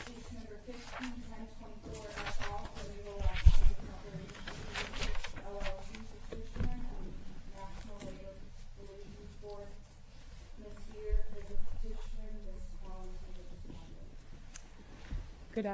Case No. 15-10.4 at all, Flamingo Las Vegas Operating v. NLRB Distribution and National Labor Relations Board. Ms. Sear, for the Distribution, Ms. Long, for the Defendant. Well, in other words, you're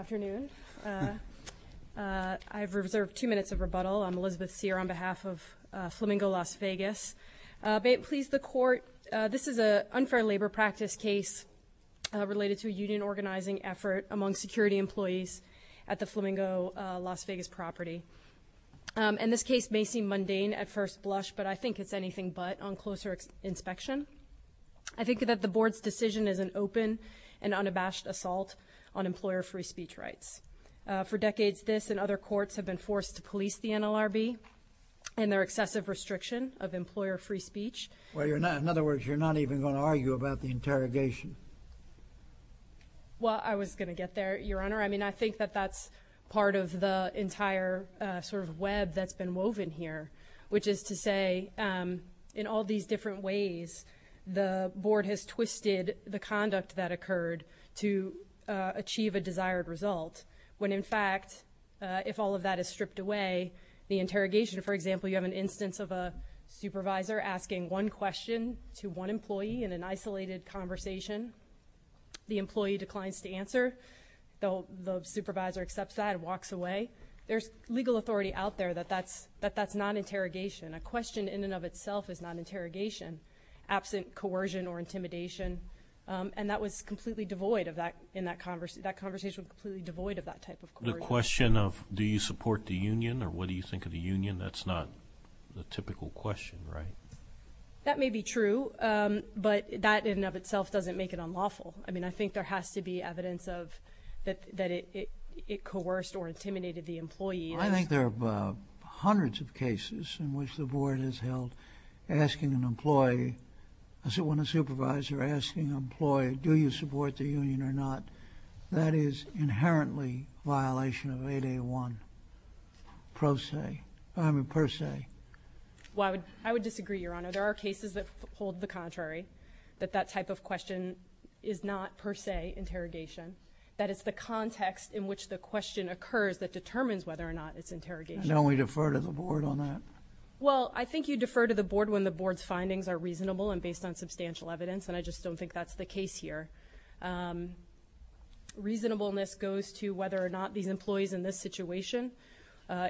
not even going to argue about the interrogation? Well, I was going to get there, Your Honor. I mean, I think that that's part of the entire sort of web that's been woven here, which is to say, in all these different ways, the Board has twisted the conduct that occurred to achieve a desired result, when in fact, if all of that is stripped away, the interrogation, for example, you have an instance of a supervisor asking one question to one employee in an isolated conversation. The employee declines to answer. The supervisor accepts that and walks away. There's legal authority out there that that's not interrogation. A question in and of itself is not interrogation, absent coercion or intimidation, and that conversation was completely devoid of that type of coercion. The question of do you support the union or what do you think of the union, that's not the typical question, right? That may be true, but that in and of itself doesn't make it unlawful. I mean, I think there has to be evidence of that it coerced or intimidated the employee. I think there are hundreds of cases in which the Board has held asking an employee, when a supervisor asking an employee do you support the union or not, that is inherently violation of 8A1 per se. I would disagree, Your Honor. There are cases that hold the contrary, that that type of question is not per se interrogation, that it's the context in which the question occurs that determines whether or not it's interrogation. Don't we defer to the Board on that? Well, I think you defer to the Board when the Board's findings are reasonable and based on substantial evidence, and I just don't think that's the case here. Reasonableness goes to whether or not these employees in this situation,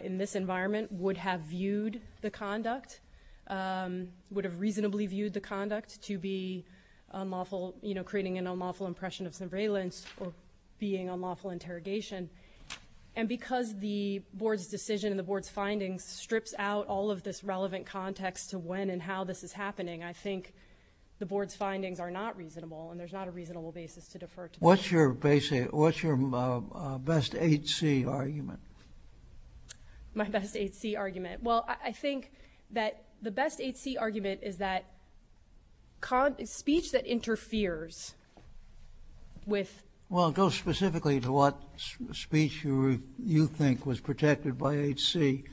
in this environment, would have viewed the conduct, would have reasonably viewed the conduct to be unlawful, you know, creating an unlawful impression of surveillance or being unlawful interrogation. And because the Board's decision and the Board's findings strips out all of this relevant context to when and how this is happening, I think the Board's findings are not reasonable and there's not a reasonable basis to defer to the Board. What's your best 8C argument? My best 8C argument? Well, I think that the best 8C argument is that speech that interferes with... Well, it goes specifically to what speech you think was protected by 8C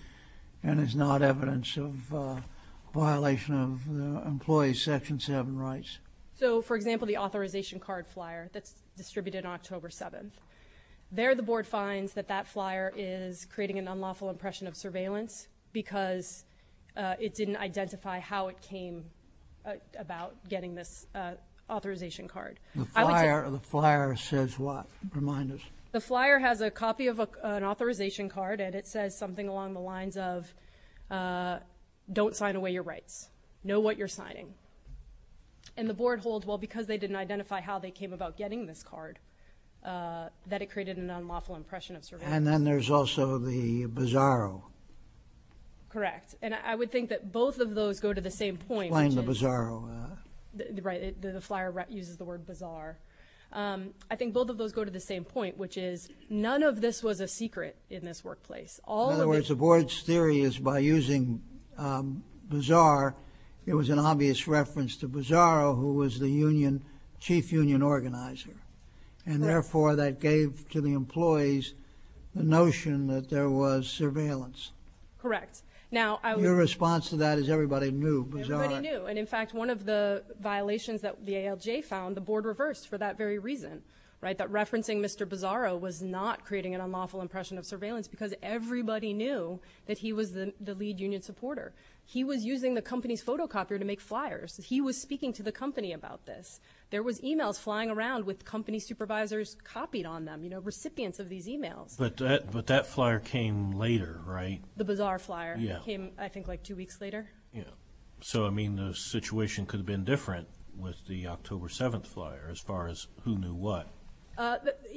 and is not evidence of violation of the employee's Section 7 rights. So, for example, the authorization card flyer that's distributed on October 7th. There the Board finds that that flyer is creating an unlawful impression of surveillance because it didn't identify how it came about getting this authorization card. The flyer says what? Remind us. The flyer has a copy of an authorization card and it says something along the lines of don't sign away your rights, know what you're signing. And the Board holds, well, because they didn't identify how they came about getting this card, that it created an unlawful impression of surveillance. And then there's also the bizarro. Correct. And I would think that both of those go to the same point. Explain the bizarro. Right. The flyer uses the word bizarre. I think both of those go to the same point, which is none of this was a secret in this workplace. In other words, the Board's theory is by using bizarre, it was an obvious reference to bizarro who was the chief union organizer. And, therefore, that gave to the employees the notion that there was surveillance. Correct. Your response to that is everybody knew bizarre. Everybody knew. And, in fact, one of the violations that the ALJ found, the Board reversed for that very reason. That referencing Mr. Bizarro was not creating an unlawful impression of surveillance because everybody knew that he was the lead union supporter. He was using the company's photocopier to make flyers. He was speaking to the company about this. There was e-mails flying around with company supervisors copied on them, recipients of these e-mails. But that flyer came later, right? The bizarre flyer came, I think, like two weeks later. So, I mean, the situation could have been different with the October 7th flyer as far as who knew what.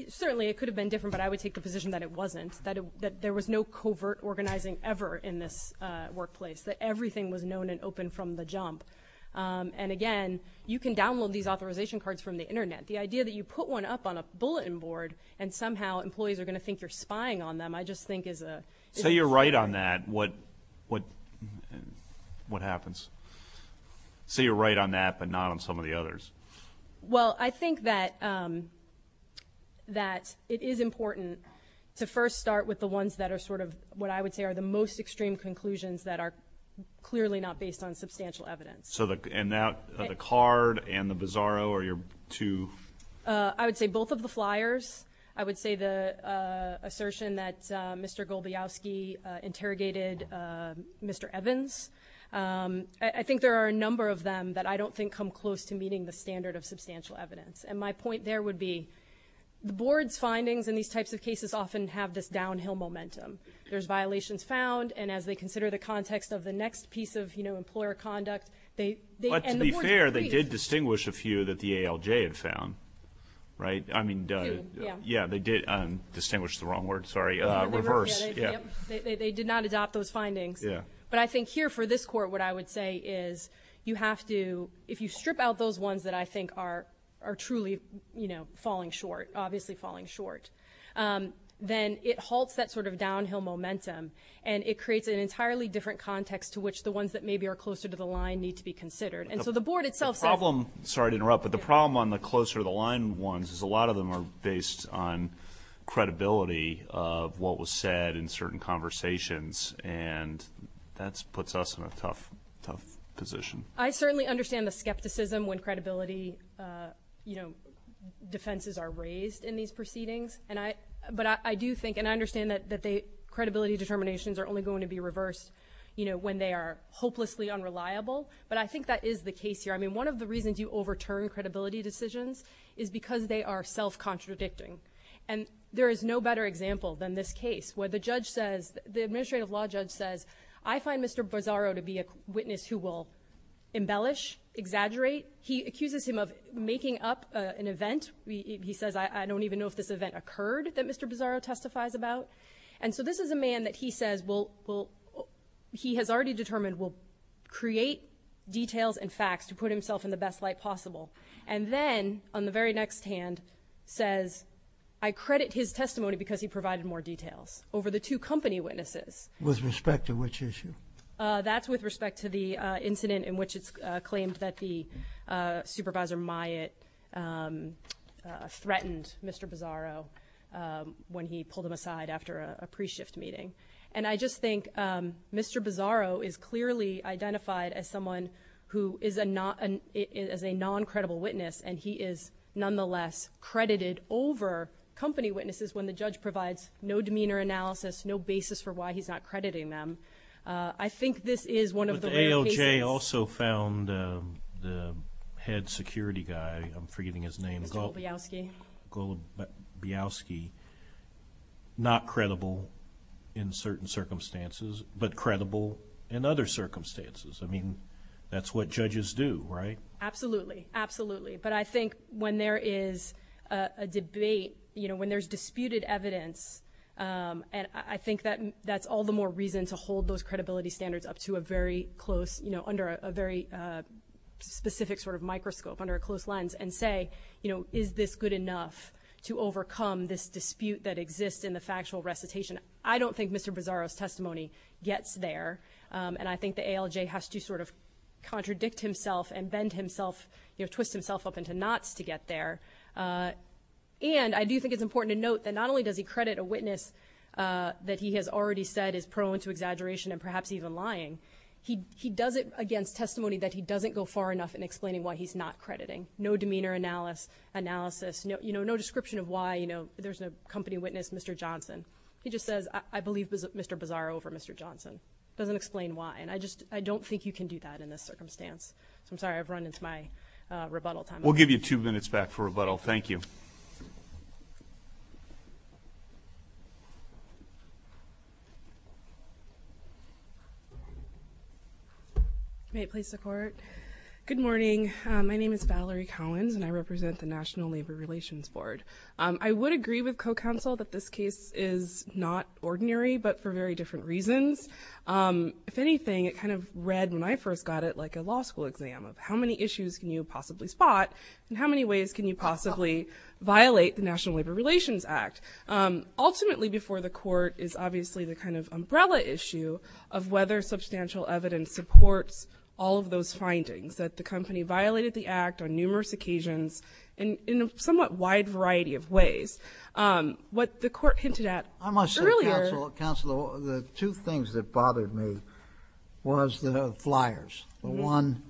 Certainly, it could have been different, but I would take the position that it wasn't, that there was no covert organizing ever in this workplace, that everything was known and open from the jump. And, again, you can download these authorization cards from the Internet. The idea that you put one up on a bulletin board and somehow employees are going to think you're spying on them, I just think is a— Say you're right on that, what happens? Say you're right on that but not on some of the others. Well, I think that it is important to first start with the ones that are sort of, what I would say, are the most extreme conclusions that are clearly not based on substantial evidence. So the card and the Bizarro are your two— I would say both of the flyers. I would say the assertion that Mr. Golubowski interrogated Mr. Evans. I think there are a number of them that I don't think come close to meeting the standard of substantial evidence. And my point there would be the board's findings in these types of cases often have this downhill momentum. There's violations found, and as they consider the context of the next piece of employer conduct, they— But to be fair, they did distinguish a few that the ALJ had found, right? I mean, yeah, they did distinguish the wrong word, sorry. Reverse, yeah. They did not adopt those findings. But I think here for this court, what I would say is you have to, if you strip out those ones that I think are truly falling short, obviously falling short, then it halts that sort of downhill momentum, and it creates an entirely different context to which the ones that maybe are closer to the line need to be considered. And so the board itself— The problem—sorry to interrupt, but the problem on the closer to the line ones is a lot of them are based on credibility of what was said in certain conversations, and that puts us in a tough, tough position. I certainly understand the skepticism when credibility defenses are raised in these proceedings, but I do think, and I understand that credibility determinations are only going to be reversed when they are hopelessly unreliable, but I think that is the case here. I mean, one of the reasons you overturn credibility decisions is because they are self-contradicting, and there is no better example than this case where the judge says— the administrative law judge says, I find Mr. Bozzaro to be a witness who will embellish, exaggerate. He accuses him of making up an event. He says, I don't even know if this event occurred that Mr. Bozzaro testifies about. And so this is a man that he says will— he has already determined will create details and facts to put himself in the best light possible, and then on the very next hand says, I credit his testimony because he provided more details over the two company witnesses. With respect to which issue? That's with respect to the incident in which it's claimed that the supervisor, Mr. Myatt, threatened Mr. Bozzaro when he pulled him aside after a pre-shift meeting. And I just think Mr. Bozzaro is clearly identified as someone who is a non-credible witness, and he is nonetheless credited over company witnesses when the judge provides no demeanor analysis, no basis for why he's not crediting them. I think this is one of the rare cases— I'm forgetting his name. Golubowski. Golubowski, not credible in certain circumstances, but credible in other circumstances. I mean, that's what judges do, right? Absolutely. Absolutely. But I think when there is a debate, you know, when there's disputed evidence, and I think that's all the more reason to hold those credibility standards up to a very close, you know, under a very specific sort of microscope, under a close lens, and say, you know, is this good enough to overcome this dispute that exists in the factual recitation? I don't think Mr. Bozzaro's testimony gets there, and I think the ALJ has to sort of contradict himself and bend himself, you know, twist himself up into knots to get there. And I do think it's important to note that not only does he credit a witness that he has already said is prone to exaggeration and perhaps even lying, he does it against testimony that he doesn't go far enough in explaining why he's not crediting. No demeanor analysis. You know, no description of why, you know, there's no company witness Mr. Johnson. He just says, I believe Mr. Bozzaro over Mr. Johnson. Doesn't explain why. And I just don't think you can do that in this circumstance. I'm sorry I've run into my rebuttal time. We'll give you two minutes back for rebuttal. Thank you. May it please the court. Good morning. My name is Valerie Collins, and I represent the National Labor Relations Board. I would agree with co-counsel that this case is not ordinary, but for very different reasons. If anything, it kind of read when I first got it like a law school exam of how many issues can you possibly spot and how many ways can you possibly violate the National Labor Relations Act. Ultimately, before the court, is obviously the kind of umbrella issue of whether substantial evidence supports all of those findings that the company violated the act on numerous occasions in a somewhat wide variety of ways. What the court hinted at earlier. I must say, counsel, the two things that bothered me was the flyers. The one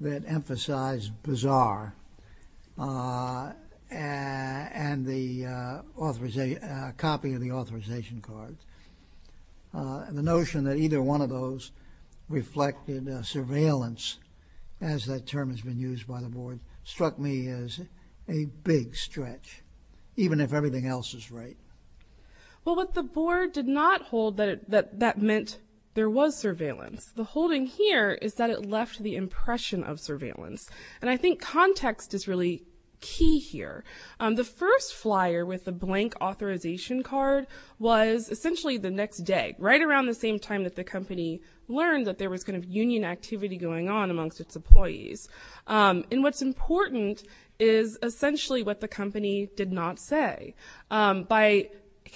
that emphasized bizarre and the copy of the authorization card. The notion that either one of those reflected surveillance, as that term has been used by the board, struck me as a big stretch, even if everything else is right. Well, what the board did not hold that that meant there was surveillance. The holding here is that it left the impression of surveillance. And I think context is really key here. The first flyer with the blank authorization card was essentially the next day, right around the same time that the company learned that there was kind of union activity going on amongst its employees. And what's important is essentially what the company did not say. By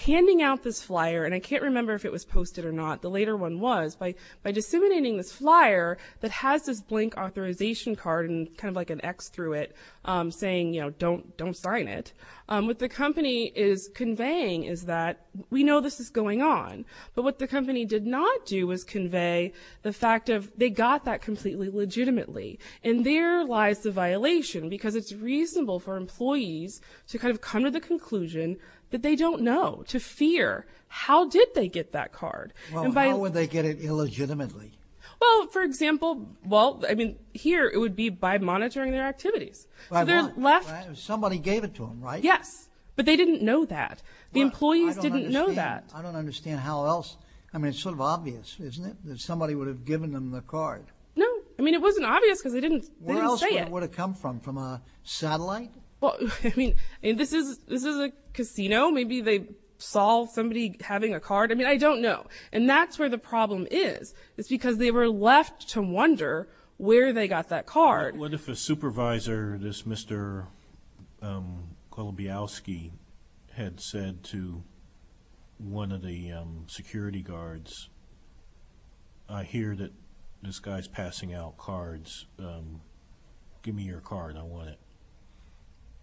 handing out this flyer, and I can't remember if it was posted or not, the later one was, by disseminating this flyer that has this blank authorization card and kind of like an X through it saying, you know, don't don't sign it with the company is conveying is that we know this is going on. But what the company did not do was convey the fact of they got that completely legitimately. And there lies the violation, because it's reasonable for employees to kind of come to the conclusion that they don't know, to fear. How did they get that card? How would they get it illegitimately? Well, for example, well, I mean, here it would be by monitoring their activities. Somebody gave it to them, right? Yes, but they didn't know that. The employees didn't know that. I don't understand how else. I mean, it's sort of obvious, isn't it, that somebody would have given them the card? No, I mean, it wasn't obvious because they didn't say it. Where else would it come from? From a satellite? Well, I mean, this is this is a casino. Maybe they saw somebody having a card. I mean, I don't know. And that's where the problem is. It's because they were left to wonder where they got that card. What if a supervisor, this Mr. Kolobyowski, had said to one of the security guards, I hear that this guy's passing out cards. Give me your card. I want it.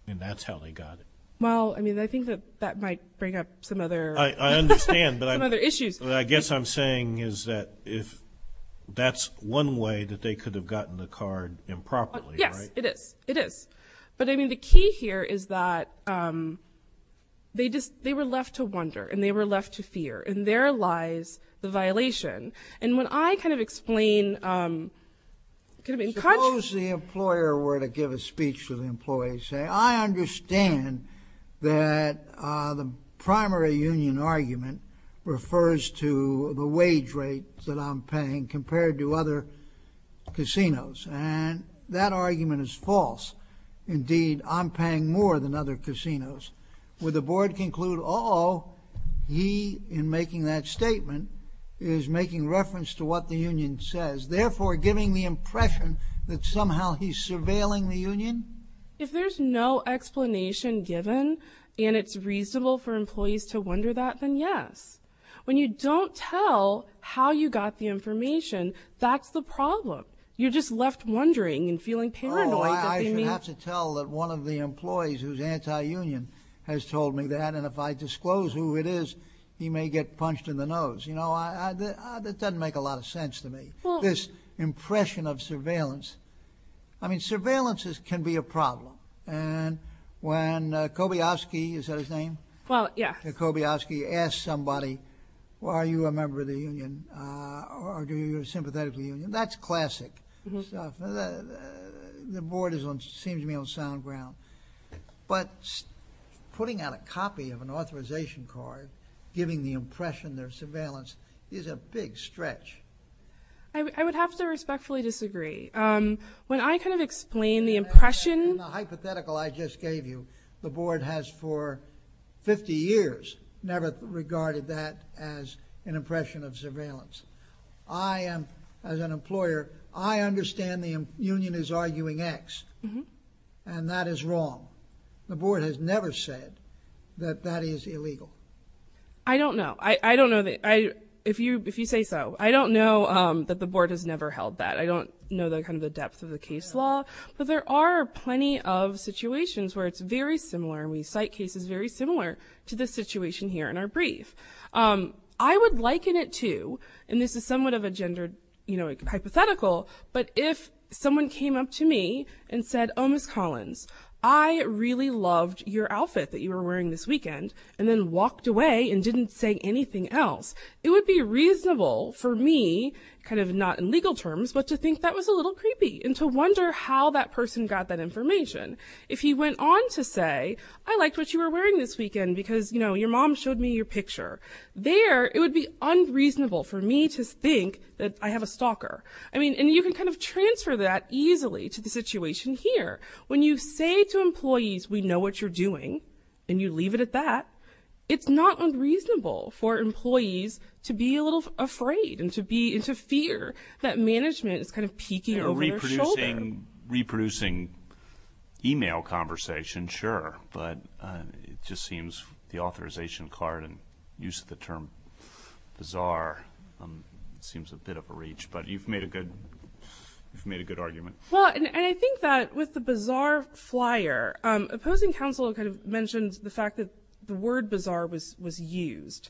And that's how they got it. Well, I mean, I think that that might bring up some other issues. What I guess I'm saying is that if that's one way that they could have gotten the card improperly, right? Yes, it is. It is. But, I mean, the key here is that they were left to wonder and they were left to fear. And there lies the violation. And when I kind of explain. Suppose the employer were to give a speech to the employee and say, I understand that the primary union argument refers to the wage rate that I'm paying compared to other casinos. And that argument is false. Indeed, I'm paying more than other casinos. Would the board conclude, uh-oh, he, in making that statement, is making reference to what the union says, therefore giving the impression that somehow he's surveilling the union? If there's no explanation given and it's reasonable for employees to wonder that, then yes. When you don't tell how you got the information, that's the problem. You're just left wondering and feeling paranoid. No, I should have to tell that one of the employees who's anti-union has told me that. And if I disclose who it is, he may get punched in the nose. You know, that doesn't make a lot of sense to me. This impression of surveillance. I mean, surveillance can be a problem. And when Kobayaski, is that his name? Well, yeah. Kobayaski asks somebody, are you a member of the union or do you sympathetically union? That's classic stuff. The board seems to be on sound ground. But putting out a copy of an authorization card, giving the impression there's surveillance, is a big stretch. I would have to respectfully disagree. When I kind of explain the impression- In the hypothetical I just gave you, the board has for 50 years never regarded that as an impression of surveillance. I am, as an employer, I understand the union is arguing X. And that is wrong. The board has never said that that is illegal. I don't know. I don't know. If you say so. I don't know that the board has never held that. I don't know the kind of the depth of the case law. But there are plenty of situations where it's very similar. And we cite cases very similar to this situation here in our brief. I would liken it to, and this is somewhat of a gender hypothetical. But if someone came up to me and said, oh, Miss Collins, I really loved your outfit that you were wearing this weekend. And then walked away and didn't say anything else. It would be reasonable for me, kind of not in legal terms, but to think that was a little creepy. If he went on to say, I liked what you were wearing this weekend because, you know, your mom showed me your picture. There, it would be unreasonable for me to think that I have a stalker. I mean, and you can kind of transfer that easily to the situation here. When you say to employees, we know what you're doing. And you leave it at that. It's not unreasonable for employees to be a little afraid and to be into fear that management is kind of peeking over their shoulder. Reproducing email conversation, sure. But it just seems the authorization card and use of the term bizarre seems a bit of a reach. But you've made a good argument. Well, and I think that with the bizarre flyer, opposing counsel kind of mentioned the fact that the word bizarre was used.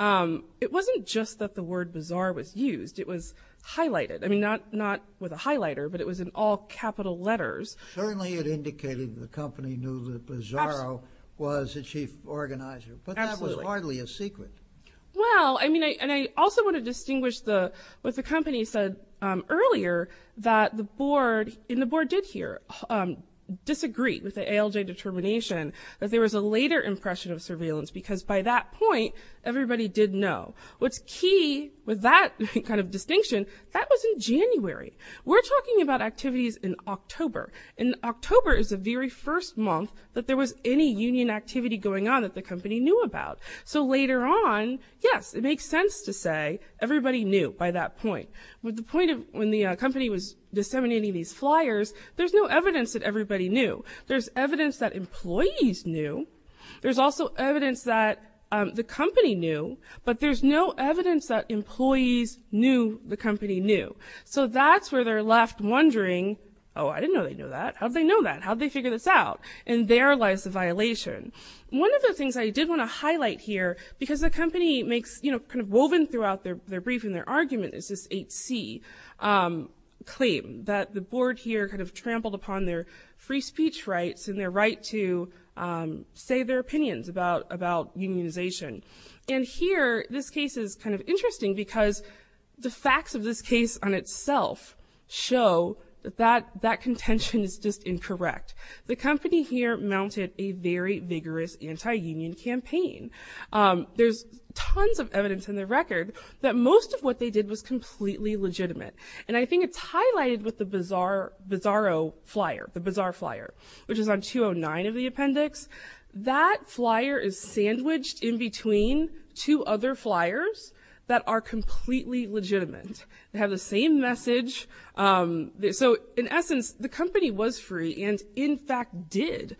It wasn't just that the word bizarre was used. It was highlighted. I mean, not with a highlighter, but it was in all capital letters. Certainly, it indicated the company knew that Bizarro was the chief organizer. But that was hardly a secret. Well, I mean, and I also want to distinguish what the company said earlier that the board, and the board did here, disagree with the ALJ determination that there was a later impression of surveillance because by that point, everybody did know. What's key with that kind of distinction, that was in January. We're talking about activities in October. And October is the very first month that there was any union activity going on that the company knew about. So later on, yes, it makes sense to say everybody knew by that point. With the point of when the company was disseminating these flyers, there's no evidence that everybody knew. There's evidence that employees knew. There's also evidence that the company knew, but there's no evidence that employees knew the company knew. So that's where they're left wondering, oh, I didn't know they knew that. How did they know that? How did they figure this out? And there lies the violation. One of the things I did want to highlight here, because the company makes, you know, kind of woven throughout their brief and their argument is this 8C claim that the board here kind of trampled upon their free speech rights and their right to say their opinions about unionization. And here, this case is kind of interesting because the facts of this case on itself show that that contention is just incorrect. The company here mounted a very vigorous anti-union campaign. There's tons of evidence in the record that most of what they did was completely legitimate. And I think it's highlighted with the Bizarro flyer, the Bizarre flyer, which is on 209 of the appendix. That flyer is sandwiched in between two other flyers that are completely legitimate. They have the same message. So, in essence, the company was free and, in fact, did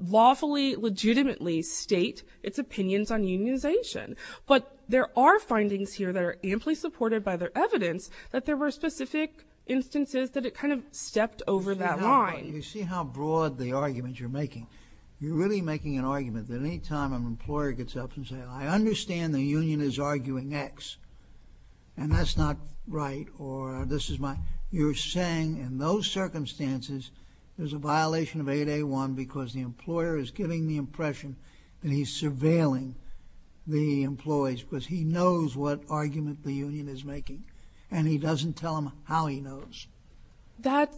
lawfully, legitimately state its opinions on unionization. But there are findings here that are amply supported by their evidence that there were specific instances that it kind of stepped over that line. You see how broad the argument you're making? You're really making an argument that any time an employer gets up and says, I understand the union is arguing X, and that's not right, or this is my – you're saying in those circumstances there's a violation of 8A1 because the employer is giving the impression that he's surveilling the employees because he knows what argument the union is making, and he doesn't tell them how he knows. That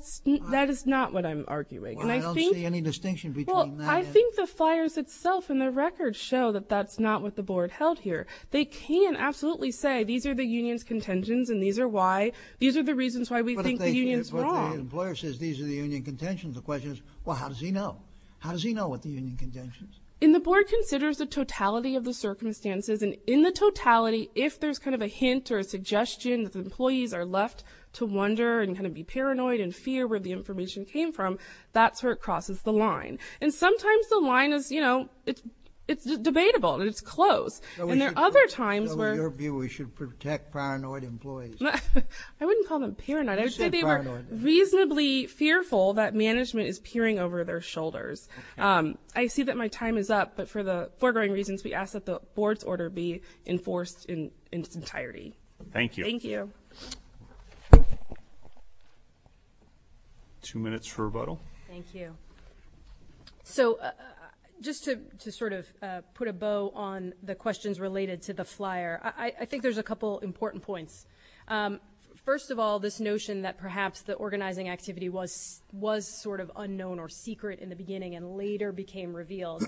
is not what I'm arguing, and I think – Well, I don't see any distinction between that and – Well, I think the flyers itself in the record show that that's not what the board held here. They can absolutely say these are the union's contentions and these are why – these are the reasons why we think the union's wrong. But if the employer says these are the union contentions, the question is, well, how does he know? And the board considers the totality of the circumstances, and in the totality, if there's kind of a hint or a suggestion that the employees are left to wonder and kind of be paranoid and fear where the information came from, that's where it crosses the line. And sometimes the line is, you know, it's debatable, and it's close. And there are other times where – So in your view, we should protect paranoid employees? I wouldn't call them paranoid. You said paranoid. Reasonably fearful that management is peering over their shoulders. I see that my time is up, but for the foregoing reasons, we ask that the board's order be enforced in its entirety. Thank you. Thank you. Two minutes for rebuttal. Thank you. So just to sort of put a bow on the questions related to the flyer, I think there's a couple important points. First of all, this notion that perhaps the organizing activity was sort of unknown or secret in the beginning and later became revealed.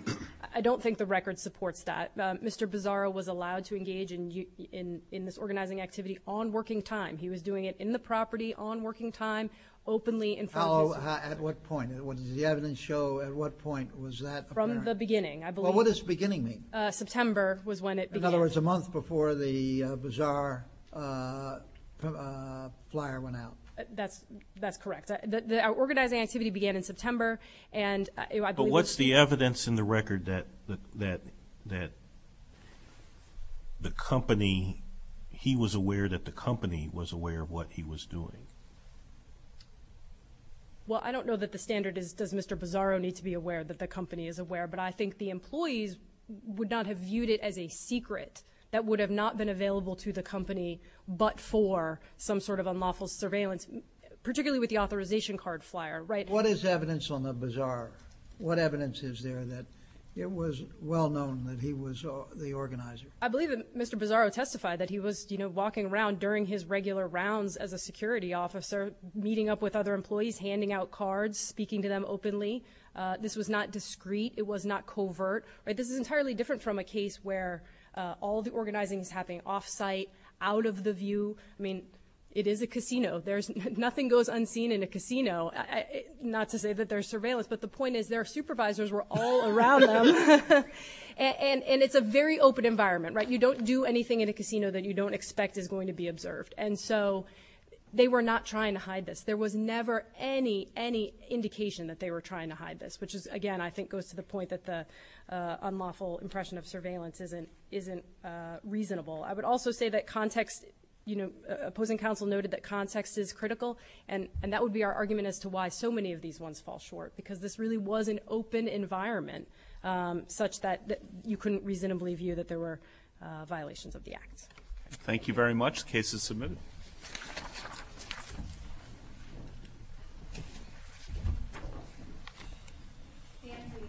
I don't think the record supports that. Mr. Bizarro was allowed to engage in this organizing activity on working time. He was doing it in the property on working time, openly in front of his— At what point? Did the evidence show at what point was that apparent? From the beginning, I believe. Well, what does beginning mean? September was when it began. In other words, a month before the Bizarro flyer went out. That's correct. The organizing activity began in September, and I believe— But what's the evidence in the record that the company— he was aware that the company was aware of what he was doing? Well, I don't know that the standard is does Mr. Bizarro need to be aware that the company is aware, but I think the employees would not have viewed it as a secret that would have not been available to the company but for some sort of unlawful surveillance, particularly with the authorization card flyer. What is evidence on the Bizarro? What evidence is there that it was well known that he was the organizer? I believe that Mr. Bizarro testified that he was walking around during his regular rounds as a security officer, meeting up with other employees, handing out cards, speaking to them openly. This was not discreet. It was not covert. This is entirely different from a case where all the organizing is happening off-site, out of the view. I mean, it is a casino. Nothing goes unseen in a casino, not to say that they're surveillance, but the point is their supervisors were all around them, and it's a very open environment. You don't do anything in a casino that you don't expect is going to be observed, and so they were not trying to hide this. There was never any indication that they were trying to hide this, which, again, I think goes to the point that the unlawful impression of surveillance isn't reasonable. I would also say that context, you know, opposing counsel noted that context is critical, and that would be our argument as to why so many of these ones fall short, because this really was an open environment such that you couldn't reasonably view that there were violations of the act. Thank you very much. The case is submitted. Stan Lee. Thank you.